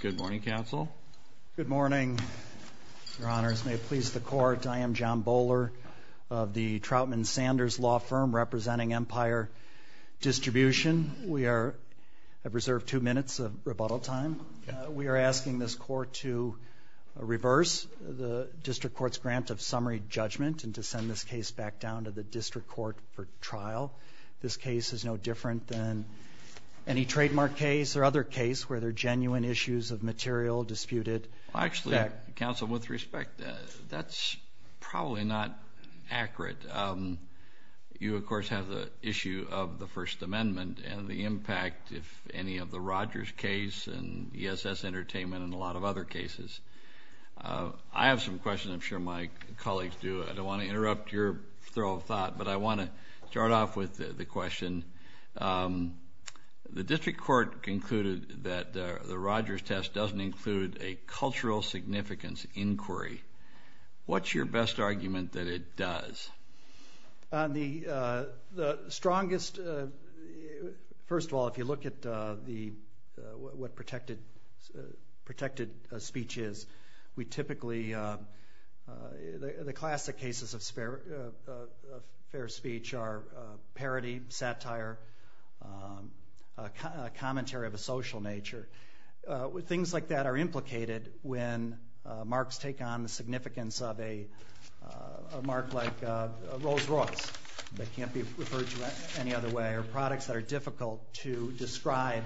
Good morning, Counsel. Good morning, Your Honors. May it please the Court, I am John Bowler of the Troutman Sanders Law Firm representing Empire Distribution. We are I've reserved two minutes of rebuttal time. We are asking this court to reverse the District Court's grant of summary judgment and to send this case back down to the District Court for trial. This case is no different than any trademark case or other case where there are genuine issues of material disputed. Actually, Counsel, with respect, that's probably not accurate. You, of course, have the issue of the First Amendment and the impact, if any, of the Rogers case and ESS Entertainment and a lot of other cases. I have some questions. I'm sure my colleagues do. I don't want to interrupt your throw of thought, but I think the Court concluded that the Rogers test doesn't include a cultural significance inquiry. What's your best argument that it does? The strongest, first of all, if you look at what protected speech is, we typically, the classic cases of fair speech are parody, satire, commentary of a social nature. Things like that are implicated when marks take on the significance of a mark like a Rolls-Royce that can't be referred to any other way or products that are difficult to describe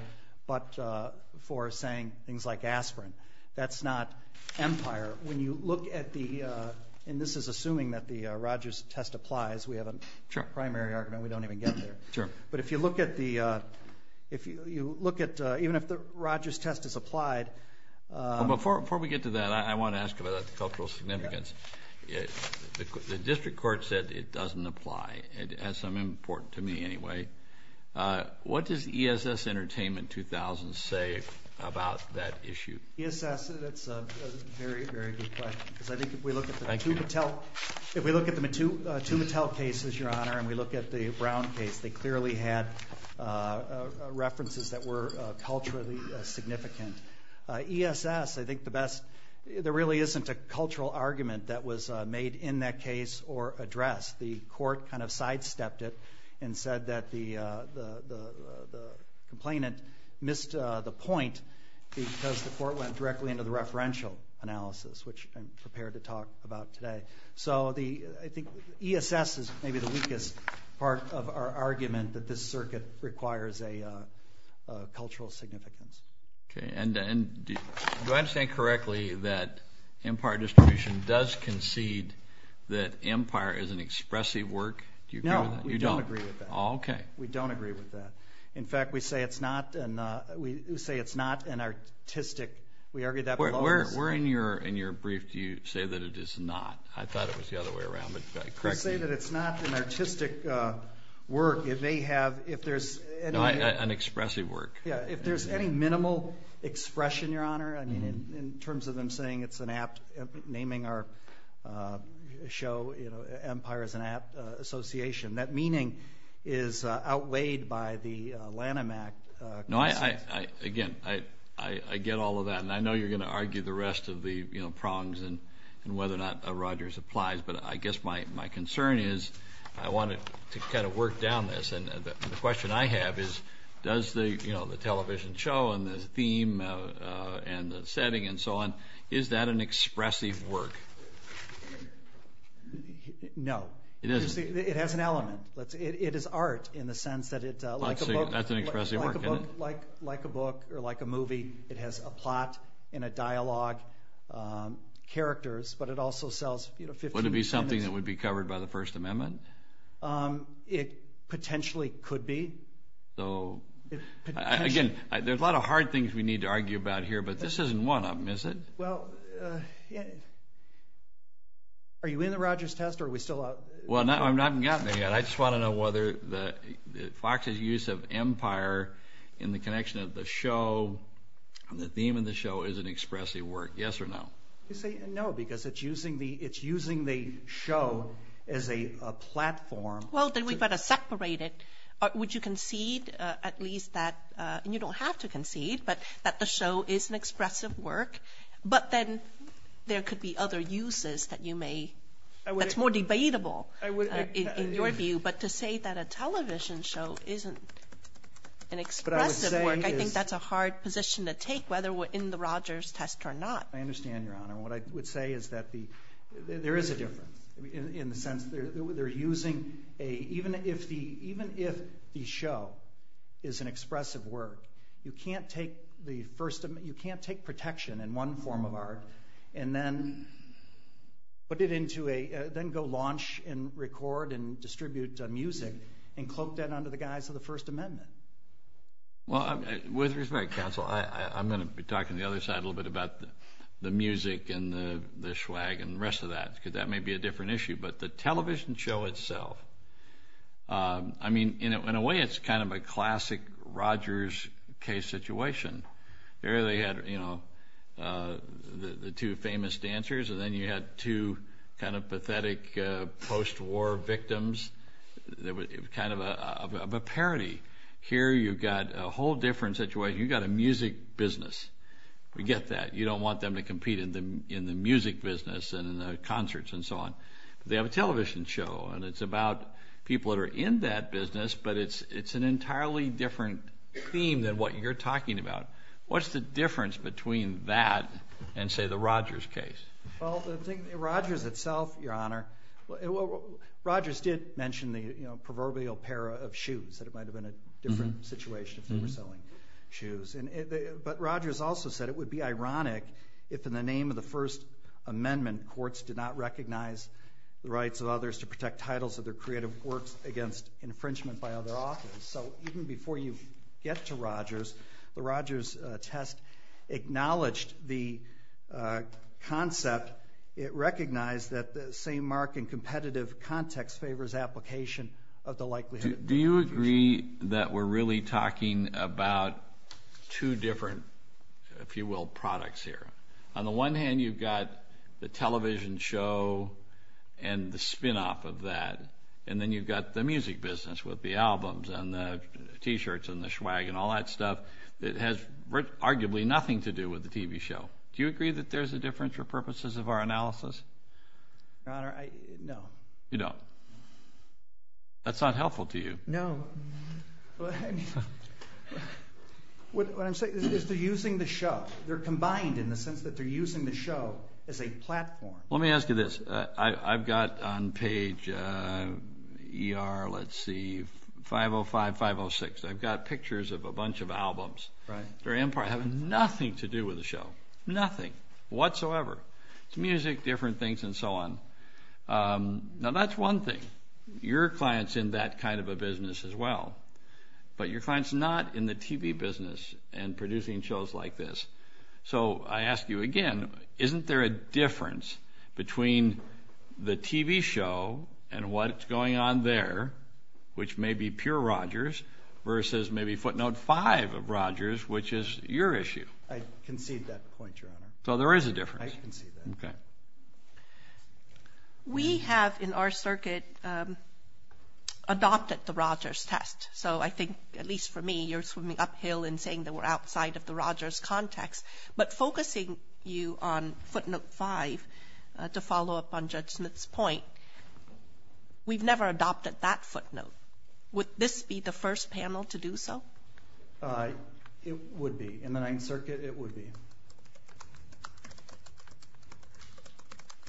but for saying things like aspirin. That's not empire. When you look at the, and this is assuming that the Rogers test applies, we have a primary argument. We don't even get there. Sure. But if you look at the, if you look at, even if the Rogers test is applied. Before we get to that, I want to ask about the cultural significance. The District Court said it doesn't apply. It has some importance to me anyway. What does ESS Entertainment 2000 say about that issue? ESS, that's a very, very good question. Because I think if we look at the two Mattel, if we look at the two Mattel cases, your honor, and we look at the Brown case, they clearly had references that were culturally significant. ESS, I think the best, there really isn't a cultural argument that was made in that case or addressed. The court kind of sidestepped it and said that the complainant missed the point because the court went directly into the referential analysis, which I'm prepared to talk about today. So the, I think ESS is maybe the weakest part of our argument that this circuit requires a cultural significance. Okay, and do I understand correctly that empire distribution does concede that empire is an expressive work? No, we don't agree with that. Okay. We don't agree with that. In fact, we say it's not an artistic, we argued that before. Where in your brief do you say that it is not? I thought it was the other way around. I say that it's not an artistic work if they have, if there's, an expressive work. Yeah, if there's any minimal expression, your honor, I mean in terms of them saying it's an apt, naming our show, you know, Empire is an apt association, that meaning is outweighed by the Lanham Act. No, I, again, I get all of that and I know you're gonna argue the rest of the, you know, prongs and whether or not Rogers applies, but I guess my concern is I wanted to kind of work down this and the question I have is does the, you know, the television show and the theme and the setting and so on, is that an expressive work? No, it has an element. It is art in the sense that it, like a book, like a book or like a movie, it has a plot and a dialogue, characters, but it also sells, you know, would it be something that would be covered by the Again, there's a lot of hard things we need to argue about here, but this isn't one of them, is it? Well, are you in the Rogers test or are we still out? Well, I'm not gotten there yet. I just want to know whether the Fox's use of Empire in the connection of the show and the theme of the show is an expressive work, yes or no? I say no, because it's using the, it's using the show as a platform. Well, then you've got to separate it. Would you concede at least that, and you don't have to concede, but that the show is an expressive work, but then there could be other uses that you may, that's more debatable in your view, but to say that a television show isn't an expressive work, I think that's a hard position to take, whether we're in the Rogers test or not. I understand, Your Honor. What I would say is that the, there is a difference, in the sense they're using a, even if the, even if the show is an expressive work, you can't take the First Amendment, you can't take protection in one form of art and then put it into a, then go launch and record and distribute music and cloak that under the guise of the First Amendment. Well, with respect, counsel, I'm gonna be talking the other side a little bit in the swag and the rest of that, because that may be a different issue, but the television show itself, I mean, in a way, it's kind of a classic Rogers case situation. There they had, you know, the two famous dancers, and then you had two kind of pathetic post-war victims. It was kind of a parody. Here you've got a whole different situation. You've got a music business. We get that. You don't want them to compete in the, in the music business and in the concerts and so on. They have a television show, and it's about people that are in that business, but it's, it's an entirely different theme than what you're talking about. What's the difference between that and, say, the Rogers case? Well, the thing, Rogers itself, Your Honor, Rogers did mention the, you know, proverbial pair of shoes, that it might have been a different situation if they were selling shoes, and, but Rogers also said it would be ironic if, in the name of the First Amendment, courts did not recognize the rights of others to protect titles of their creative works against infringement by other authors, so even before you get to Rogers, the Rogers test acknowledged the concept. It recognized that the same mark and competitive context favors application of the two different, if you will, products here. On the one hand, you've got the television show and the spin-off of that, and then you've got the music business with the albums and the t-shirts and the schwag and all that stuff that has arguably nothing to do with the TV show. Do you agree that there's a difference for purposes of our analysis? Your Honor, I, no. You don't? That's not helpful to you. No. What I'm saying is they're using the show. They're combined in the sense that they're using the show as a platform. Let me ask you this. I've got on page ER, let's see, 505, 506. I've got pictures of a bunch of albums. Right. They're in part, have nothing to do with the show. Nothing. Whatsoever. It's music, different things, and so on. Now that's one thing. Your client's in that kind of a business as well, but your client's not in the TV business and producing shows like this. So I ask you again, isn't there a difference between the TV show and what it's going on there, which may be pure Rodgers, versus maybe footnote five of Rodgers, which is your issue? I concede that point, Your Honor. So there is a difference. I concede that. Okay. We have in our circuit adopted the Rodgers test. So I think, at least for me, you're swimming uphill in saying that we're outside of the Rodgers context, but focusing you on footnote five, to follow up on Judge Smith's point, we've never adopted that footnote. Would this be the first panel to do so? It would be. In the Ninth Circuit, it would be.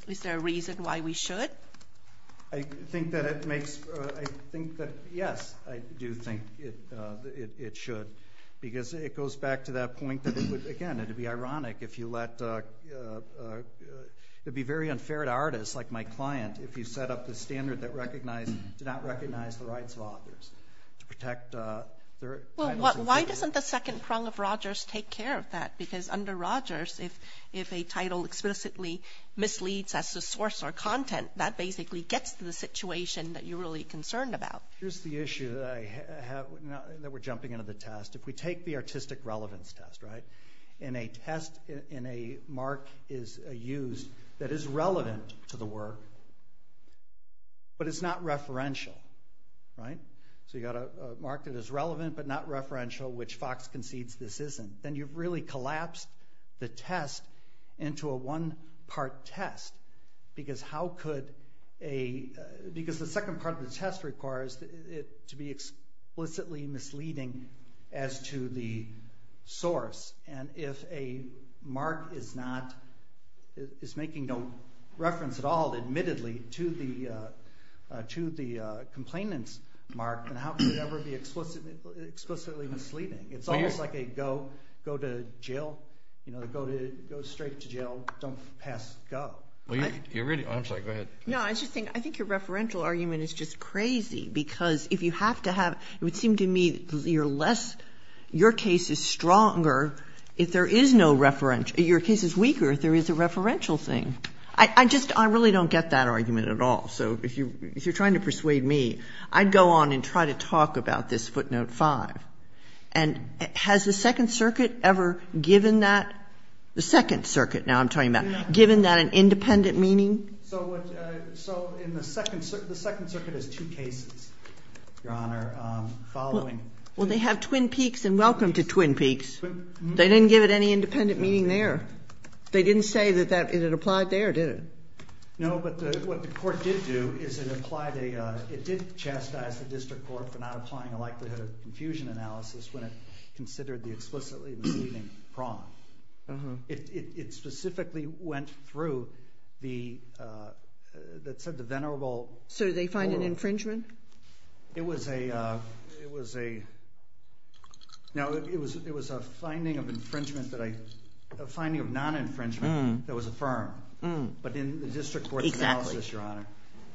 Is there a reason why we should? I think that it makes, I think that, yes, I do think it should, because it goes back to that point that it would, again, it'd be ironic if you let, it'd be very unfair to artists like my client if you set up the standard that did not recognize the rights of authors to protect their titles. Well, why doesn't the second prong of Rodgers take care of that? Because under Rodgers, if a title explicitly misleads as the source or content, that basically gets to the situation that you're really concerned about. Here's the issue that we're jumping into the test. If we take the artistic relevance test, right, and a test, and a mark is used that is relevant to the work, but it's not referential, right, so you got a mark that is relevant but not referential, which Fox concedes this isn't, then you've really collapsed the test into a one-part test, because how could a, because the second part of the test requires it to be explicitly misleading as to the source, and if a mark is not, is making no reference at all, admittedly, to the complainant's mark, then how could it ever be explicitly misleading? It's almost like a go to jail, you know, go straight to jail, don't pass, go. Well, you're really, I'm sorry, go ahead. No, I just think, I think your referential argument is just crazy, because if you have to have, it would seem to me that you're less, your case is stronger if there is no referential, your case is weaker if there is a referential thing. I just, I really don't get that argument at all. So if you, if you're trying to persuade me, I'd go on and try to talk about this footnote five, and has the Second Circuit ever given that, the Second Circuit, now I'm talking about, given that an independent meaning? So what, so in the Second, the Second Circuit has two cases, Your Honor, following. Well, they have Twin Peaks, and welcome to Twin Peaks. They didn't give it any independent meaning there. They didn't say that that, it had applied there, did it? No, but the, what the court did do is it applied a, it did chastise the District Court for not applying a likelihood of confusion analysis when it considered the explicitly misleading prong. It, it, it specifically went through the, that said the venerable. So did they find an infringement? It was a, it was a, now it was, it was a finding of infringement that I, a finding of non-infringement that was affirmed. But in the District Court analysis, Your Honor,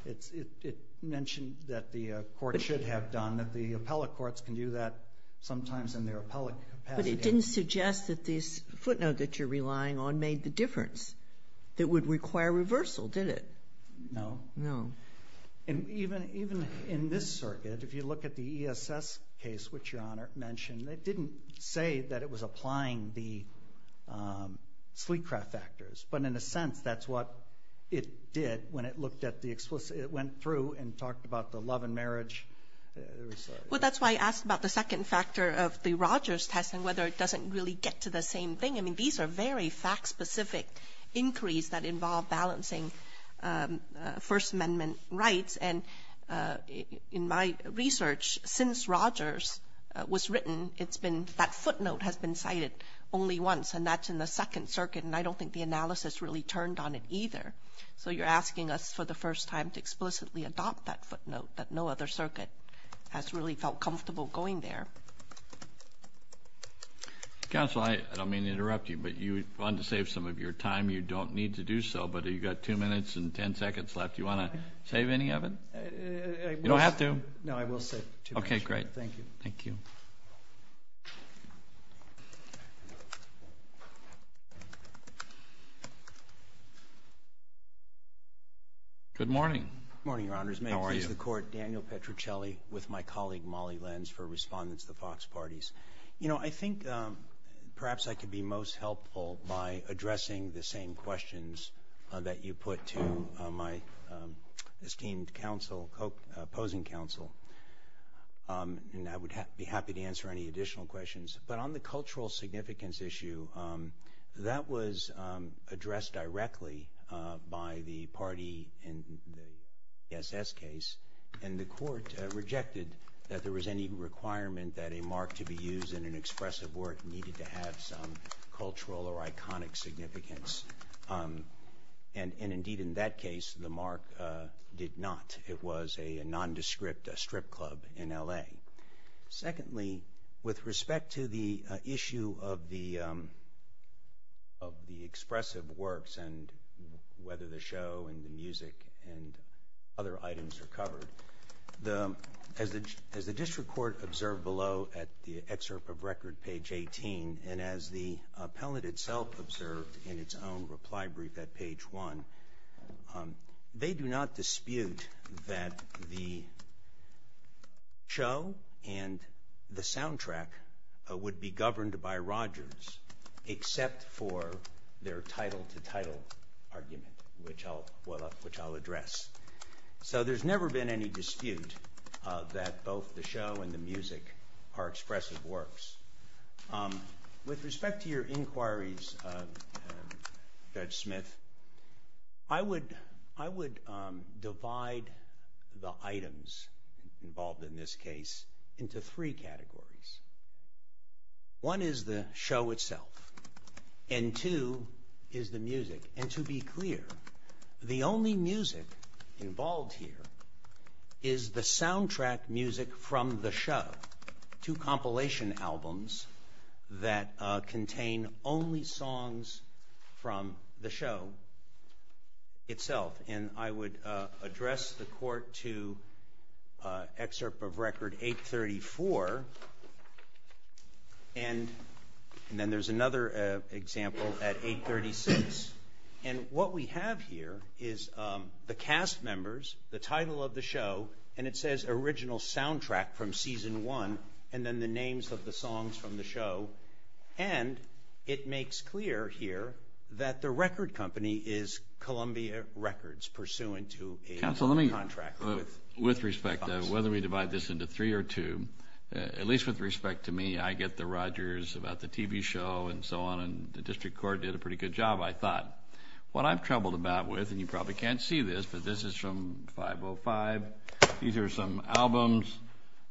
it's, it, it mentioned that the court should have done, that the appellate courts can do that sometimes in their appellate capacity. But it didn't suggest that this footnote that you're relying on made the difference. It would require reversal, did it? No. No. And even, even in this circuit, if you look at the ESS case, which Your Honor mentioned, it didn't say that it was applying the Sleekcraft factors, but in a sense, that's what it did when it looked at the explicit, it went through and talked about the love and marriage. Yeah, it was. Well, that's why I asked about the second factor of the Rogers test and whether it doesn't really get to the same thing. I mean, these are very fact-specific inquiries that involve balancing First Amendment rights. And in my research, since Rogers was written, it's been, that footnote has been cited only once, and that's in the Second Circuit. And I don't think the analysis really turned on it either. So you're asking us for the first time to explicitly adopt that footnote that no other has really felt comfortable going there. Counsel, I don't mean to interrupt you, but you wanted to save some of your time. You don't need to do so, but you've got two minutes and 10 seconds left. Do you want to save any of it? You don't have to. No, I will save two minutes. Okay, great. Thank you. Thank you. Good morning. Morning, Your Honors. The Court. Daniel Petruccelli with my colleague Molly Lenz for Respondents to the Fox Parties. You know, I think perhaps I could be most helpful by addressing the same questions that you put to my esteemed counsel, opposing counsel, and I would be happy to answer any additional questions. But on the cultural significance issue, that was addressed directly by the party in the SS case, and the Court rejected that there was any requirement that a mark to be used in an expressive work needed to have some cultural or iconic significance. And indeed, in that case, the mark did not. It was a nondescript strip club in L.A. Secondly, with respect to the issue of the expressive works and whether the show and the music and other items are covered, as the district court observed below at the excerpt of record, page 18, and as the appellate itself observed in its own reply brief at page 1, they do not dispute that the show and the soundtrack would be governed by Rogers except for their title-to-title argument, which I'll address. So there's never been any dispute that both the show and the music are expressive works. With respect to your inquiries, Judge Smith, I would divide the items involved in this case into three categories. One is the show itself, and two is the music. And to be clear, the only music involved here is the soundtrack music from the show, two that contain only songs from the show itself. And I would address the court to excerpt of record 834, and then there's another example at 836. And what we have here is the cast members, the title of the show, and it says original soundtrack from season one, and then the names of the songs from the show. And it makes clear here that the record company is Columbia Records, pursuant to a contract. Counsel, let me, with respect, whether we divide this into three or two, at least with respect to me, I get the Rogers about the TV show and so on, and the district court did a pretty good job, I thought. What I'm troubled about with, and you probably can't see this, but this is from 505, these are some albums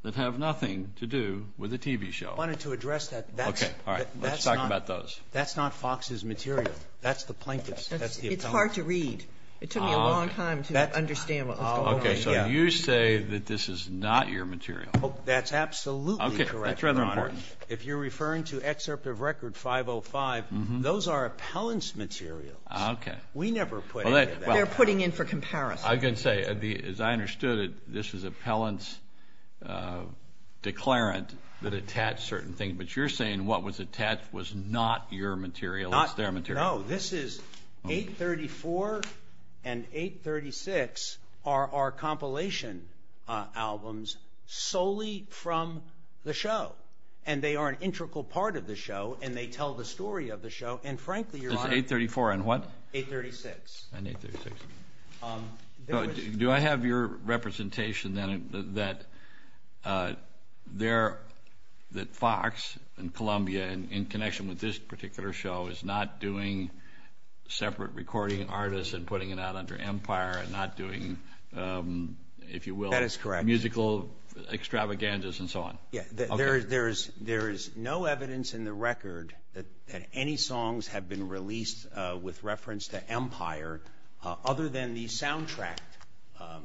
that have nothing to do with the TV show. I wanted to address that. Okay. All right. Let's talk about those. That's not Fox's material. That's the plaintiff's. It's hard to read. It took me a long time to understand. Okay. So you say that this is not your material. That's absolutely correct, Your Honor. If you're referring to excerpt of record 505, those are appellant's materials. Okay. We never put any of that. They're putting in for comparison. I can say, as I understood it, this is appellant's declarant that attached certain things, but you're saying what was attached was not your material. It's their material. No. This is 834 and 836 are our compilation albums solely from the show, and they are an integral part of the show, and they tell the story of the show, and frankly, Your Honor- It's 834 and what? 836. And 836. Do I have your representation, then, that Fox and Columbia, in connection with this particular show, is not doing separate recording artists and putting it out under Empire and not doing, if you will- That is correct. Musical extravaganzas and so on. Yeah. There is no evidence in the record that any songs have been released with reference to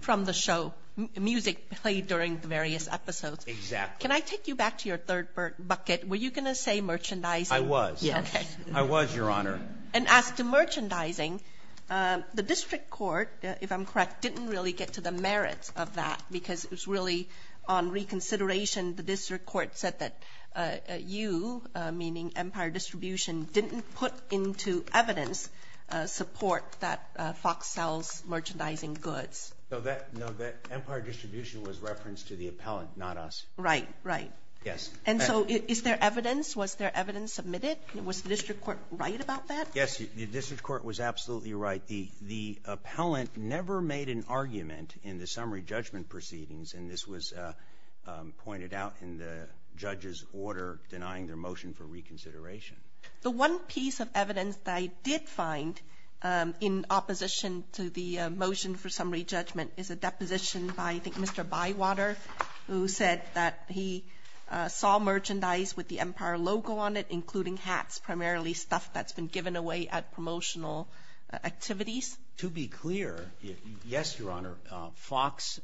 from the show, music played during the various episodes. Exactly. Can I take you back to your third bucket? Were you going to say merchandising? I was. Yes. I was, Your Honor. And as to merchandising, the district court, if I'm correct, didn't really get to the merit of that because it was really on reconsideration. The district court said that you, meaning Empire Distribution, didn't put into evidence support that Fox sells merchandising goods. No, that Empire Distribution was referenced to the appellant, not us. Right, right. Yes. And so is there evidence? Was there evidence submitted? Was the district court right about that? Yes, the district court was absolutely right. The appellant never made an argument in the summary judgment proceedings, and this was pointed out in the judge's order denying their motion for reconsideration. The one piece of evidence that I did find in opposition to the motion for summary judgment is a deposition by, I think, Mr. Bywater, who said that he saw merchandise with the Empire logo on it, including hats, primarily stuff that's been given away at promotional activities. To be clear, yes, Your Honor, Fox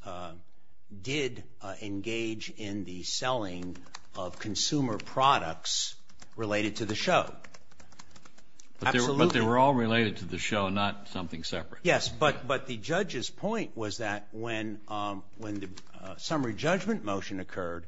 did engage in the selling of consumer products related to the show. But they were all related to the show, not something separate. Yes, but the judge's point was that when the summary judgment motion occurred,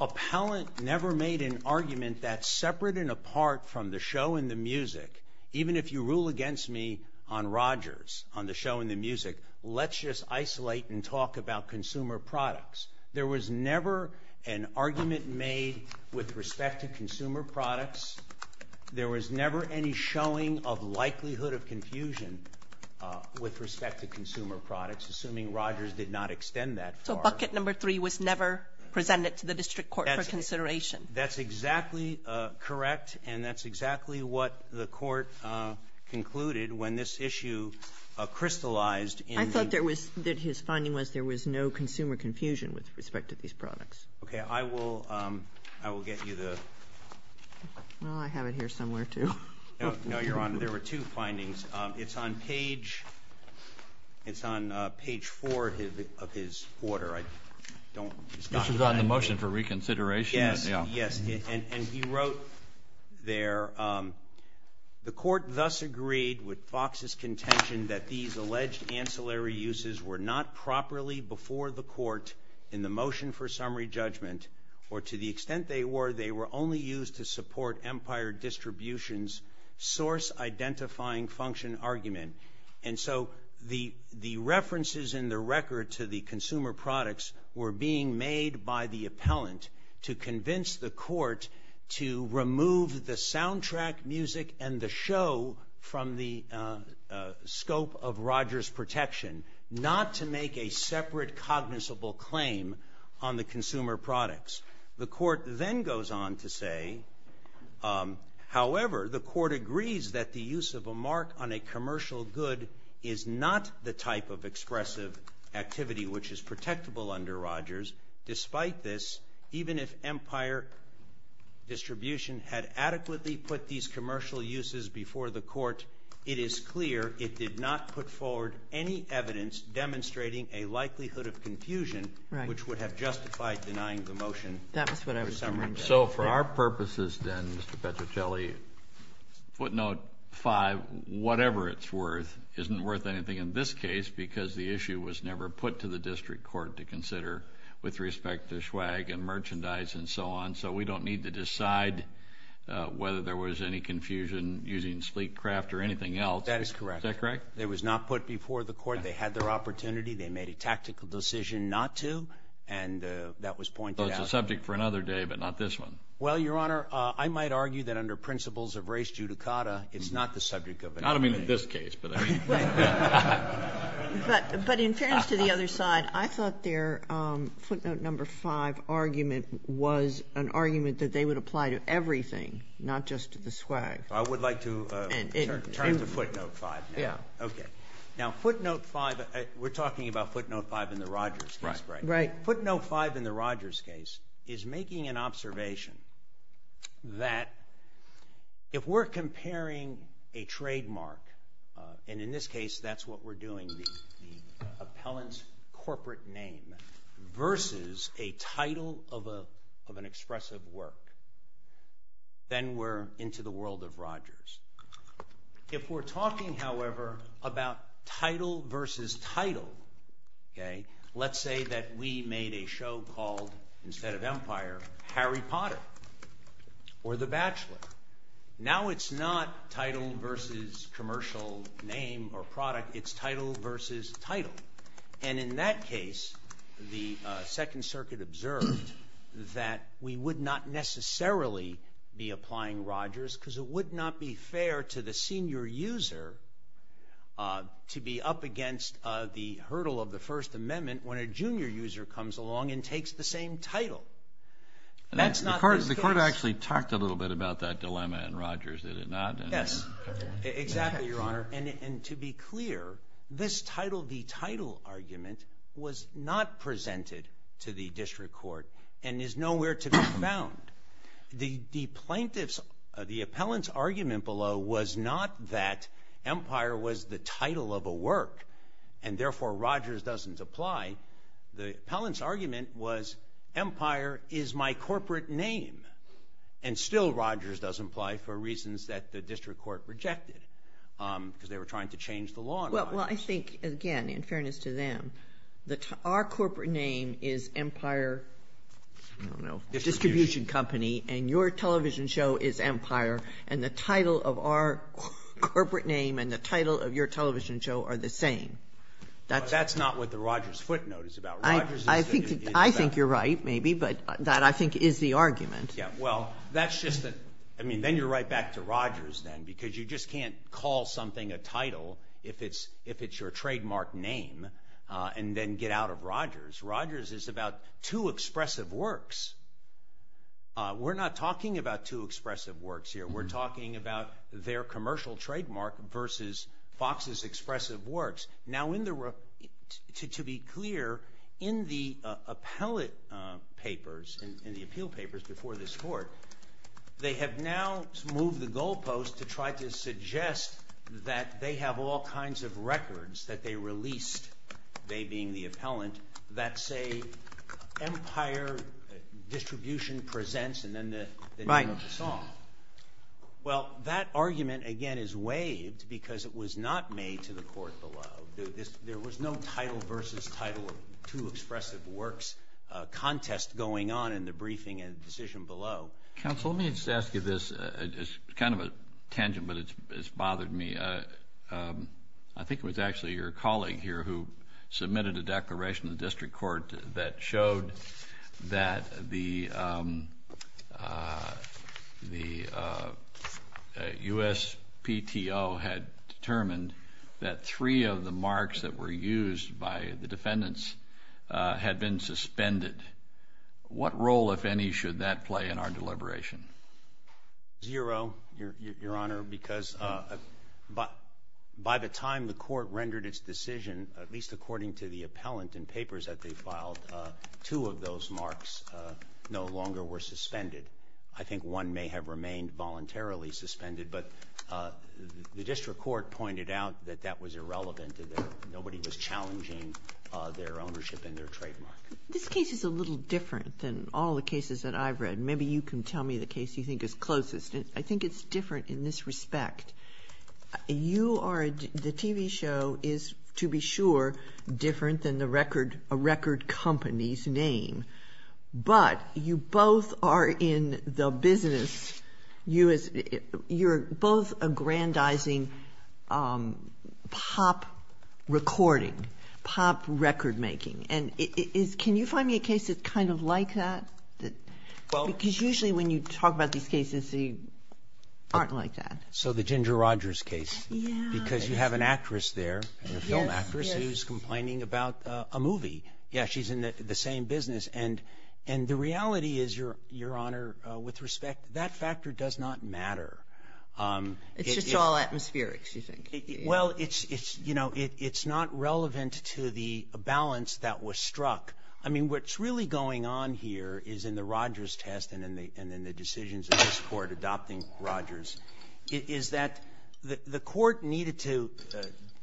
appellant never made an argument that's separate and apart from the show and the music. Even if you rule against me on Rogers, on the show and the music, let's just isolate and talk about consumer products. There was never an argument made with respect to consumer products. There was never any showing of likelihood of confusion with respect to consumer products, assuming Rogers did not extend that far. So bucket number three was never presented to the district court for consideration? That's exactly correct, and that's exactly what the court concluded when this issue crystallized in the — that his finding was there was no consumer confusion with respect to these products. Okay, I will get you the — Well, I have it here somewhere, too. No, Your Honor, there were two findings. It's on page four of his order. I don't — This was on the motion for reconsideration? Yes, yes, and he wrote there, The court thus agreed with Fox's contention that these alleged ancillary uses were not properly before the court in the motion for summary judgment, or to the extent they were, they were only used to support Empire Distribution's source-identifying function argument. And so the references in the record to the consumer products were being made by the music and the show from the scope of Rogers' protection, not to make a separate cognizable claim on the consumer products. The court then goes on to say, however, the court agrees that the use of a mark on a commercial good is not the type of expressive activity which is protectable under Rogers. Despite this, even if Empire Distribution had adequately put these commercial uses before the court, it is clear it did not put forward any evidence demonstrating a likelihood of confusion which would have justified denying the motion for summary judgment. So for our purposes, then, Mr. Petrocelli, footnote five, whatever it's worth isn't worth anything in this case because the issue was never put to the district court to consider with respect to schwag and merchandise and so on. So we don't need to decide whether there was any confusion using sleek craft or anything else. That is correct. Is that correct? It was not put before the court. They had their opportunity. They made a tactical decision not to, and that was pointed out. So it's a subject for another day, but not this one. Well, Your Honor, I might argue that under principles of race judicata, it's not the subject of another day. I don't mean in this case, but I mean... But in fairness to the other side, I thought their footnote number five argument was an argument that they would apply to everything, not just to the schwag. I would like to turn to footnote five. Yeah. Okay. Now, footnote five, we're talking about footnote five in the Rogers case, right? Right. Footnote five in the Rogers case is making an observation that if we're comparing a that's what we're doing, the appellant's corporate name versus a title of an expressive work, then we're into the world of Rogers. If we're talking, however, about title versus title, okay, let's say that we made a show called, instead of Empire, Harry Potter or The Bachelor. Now, it's not title versus commercial name or product. It's title versus title. And in that case, the Second Circuit observed that we would not necessarily be applying Rogers because it would not be fair to the senior user to be up against the hurdle of the First Amendment when a junior user comes along and takes the same title. That's not the case. The court actually talked a little bit about that dilemma in Rogers, did it not? Yes, exactly, Your Honor. And to be clear, this title v. title argument was not presented to the district court and is nowhere to be found. The plaintiff's, the appellant's argument below was not that Empire was the title of a work and therefore Rogers doesn't apply. The appellant's argument was Empire is my corporate name, and still Rogers doesn't apply for reasons that the district court rejected because they were trying to change the law in Rogers. Well, I think, again, in fairness to them, our corporate name is Empire, I don't know, Distribution Company, and your television show is Empire, and the title of our corporate name and the title of your television show are the same. That's not what the Rogers footnote is about. I think you're right, maybe, but that, I think, is the argument. Yeah, well, that's just, I mean, then you're right back to Rogers then because you just can't call something a title if it's your trademark name and then get out of Rogers. Rogers is about two expressive works. We're not talking about two expressive works here. We're talking about their commercial trademark versus Fox's expressive works. Now, to be clear, in the appellate papers, in the appeal papers before this court, they have now moved the goalpost to try to suggest that they have all kinds of records that they released, they being the appellant, that say Empire Distribution Presents and then the name of the song. Well, that argument, again, is waived because it was not made to the court below. There was no title versus title of two expressive works contest going on in the briefing and the decision below. Counsel, let me just ask you this. It's kind of a tangent, but it's bothered me. I think it was actually your colleague here who submitted a declaration to the district court that showed that the USPTO had determined that three of the marks that were used by the defendants had been suspended. What role, if any, should that play in our deliberation? Zero, Your Honor, because by the time the court rendered its decision, at least according to the appellant and papers that they filed, two of those marks no longer were suspended. I think one may have remained voluntarily suspended, but the district court pointed out that that was irrelevant and that nobody was challenging their ownership and their trademark. This case is a little different than all the cases that I've read. Maybe you can tell me the case you think is closest. I think it's different in this respect. You are, the TV show is, to be sure, different than a record company's name, but you both are in the business, you're both aggrandizing pop recording, pop record making. And can you find me a case that's kind of like that? Because usually when you talk about these cases, they aren't like that. So the Ginger Rogers case, because you have an actress there, a film actress, who's complaining about a movie. Yeah, she's in the same business. And the reality is, Your Honor, with respect, that factor does not matter. It's just all atmospherics, you think? Well, it's not relevant to the balance that was struck. I mean, what's really going on here is in the Rogers test and in the decisions of this Rogers, is that the court needed to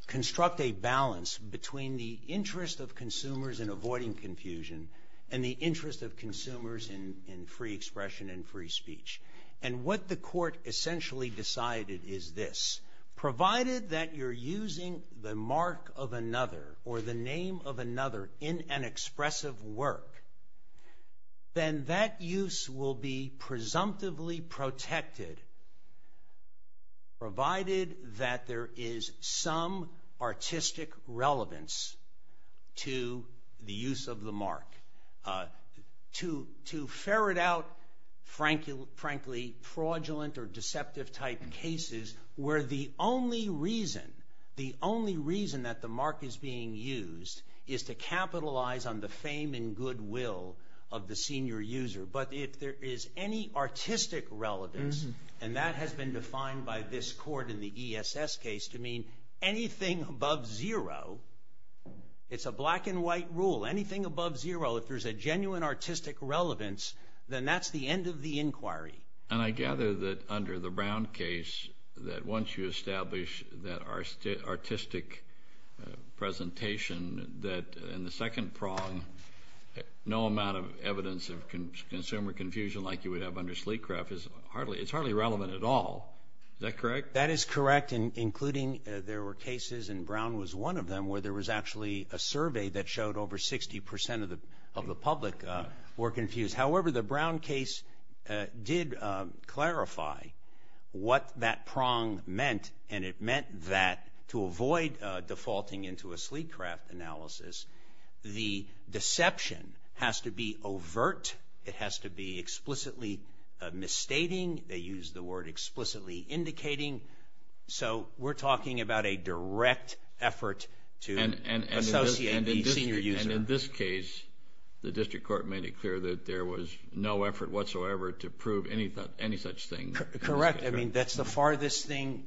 construct a balance between the interest of consumers in avoiding confusion and the interest of consumers in free expression and free speech. And what the court essentially decided is this. Provided that you're using the mark of another or the name of another in an expressive work, then that use will be presumptively protected, provided that there is some artistic relevance to the use of the mark. To ferret out, frankly, fraudulent or deceptive type cases, where the only reason, the only reason that the mark is being used is to capitalize on the fame and goodwill of the senior user. But if there is any artistic relevance, and that has been defined by this court in the ESS case to mean anything above zero, it's a black and white rule. Anything above zero, if there's a genuine artistic relevance, then that's the end of the inquiry. And I gather that under the Brown case, that once you establish that artistic presentation, that in the second prong, no amount of evidence of consumer confusion like you would have under Sleecraft is hardly, it's hardly relevant at all. Is that correct? That is correct, including there were cases, and Brown was one of them, where there was actually a survey that showed over 60 percent of the public were confused. However, the Brown case did clarify what that prong meant, and it meant that to avoid defaulting into a Sleecraft analysis, the deception has to be overt. It has to be explicitly misstating. They use the word explicitly indicating. So we're talking about a direct effort to associate the senior user. In this case, the district court made it clear that there was no effort whatsoever to prove any such thing. Correct. I mean, that's the farthest thing.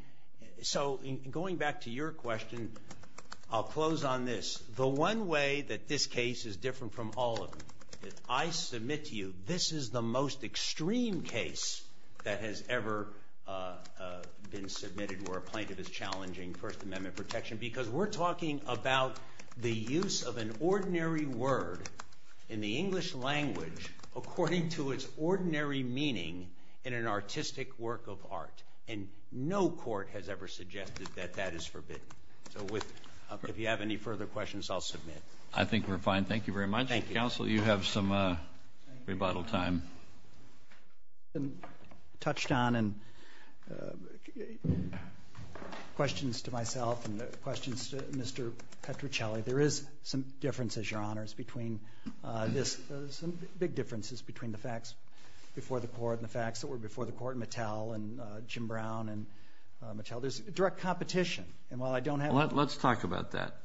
So going back to your question, I'll close on this. The one way that this case is different from all of them, I submit to you, this is the most extreme case that has ever been submitted where a plaintiff is challenging First Amendment protection because we're talking about the use of an ordinary word in the English language according to its ordinary meaning in an artistic work of art, and no court has ever suggested that that is forbidden. So if you have any further questions, I'll submit. I think we're fine. Thank you very much. Thank you. Counsel, you have some rebuttal time. I've been touched on and questions to myself and questions to Mr. Petruccelli. There is some differences, Your Honors, between this, some big differences between the facts before the court and the facts that were before the court, Mattel and Jim Brown and Mattel. There's direct competition. And while I don't have— Let's talk about that.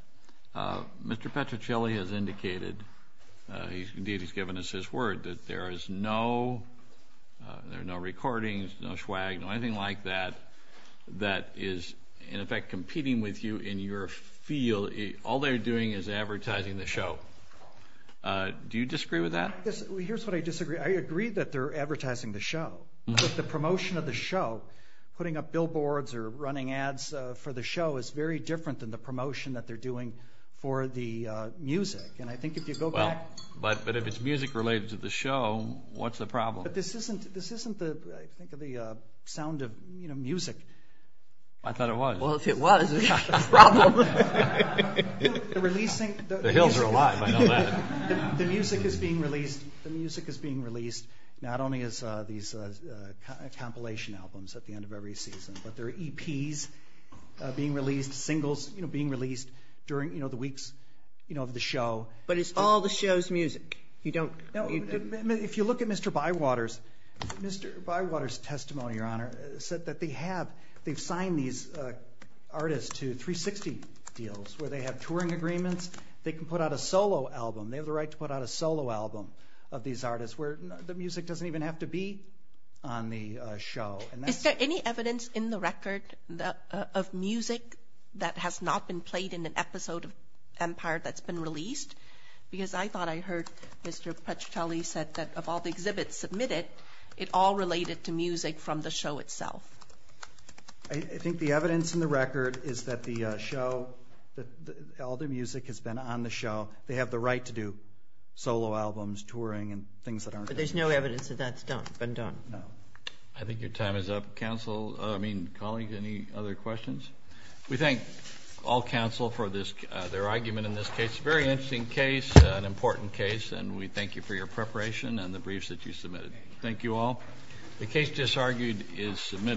Mr. Petruccelli has indicated—indeed, he's given us his word—that there is no recordings, no swag, no anything like that that is, in effect, competing with you in your field. All they're doing is advertising the show. Do you disagree with that? Here's what I disagree. I agree that they're advertising the show. But the promotion of the show, putting up billboards or running ads for the show, is very different than the promotion that they're doing for the music. And I think if you go back— Well, but if it's music related to the show, what's the problem? But this isn't, I think, the sound of, you know, music. I thought it was. Well, if it was, it's not a problem. The releasing— The hills are alive, I know that. The music is being released. The music is being released, not only as these compilation albums at the end of every season, but there are EPs being released, singles, you know, being released during, you know, the weeks, you know, of the show. But it's all the show's music. You don't— If you look at Mr. Bywater's—Mr. Bywater's testimony, Your Honor, said that they have—they've signed these artists to 360 deals where they have touring agreements. They can put out a solo album. They have the right to put out a solo album of these artists where the music doesn't even have to be on the show. Is there any evidence in the record of music that has not been played in an episode of Empire that's been released? Because I thought I heard Mr. Puccitelli said that of all the exhibits submitted, it all related to music from the show itself. I think the evidence in the record is that the show, that all the music has been on the show. They have the right to do solo albums, touring, and things that aren't— But there's no evidence that that's done, been done. No. I think your time is up. Counsel—I mean, colleagues, any other questions? We thank all counsel for this—their argument in this case. Very interesting case, an important case, and we thank you for your preparation and the briefs that you submitted. Thank you all. The case just argued is submitted.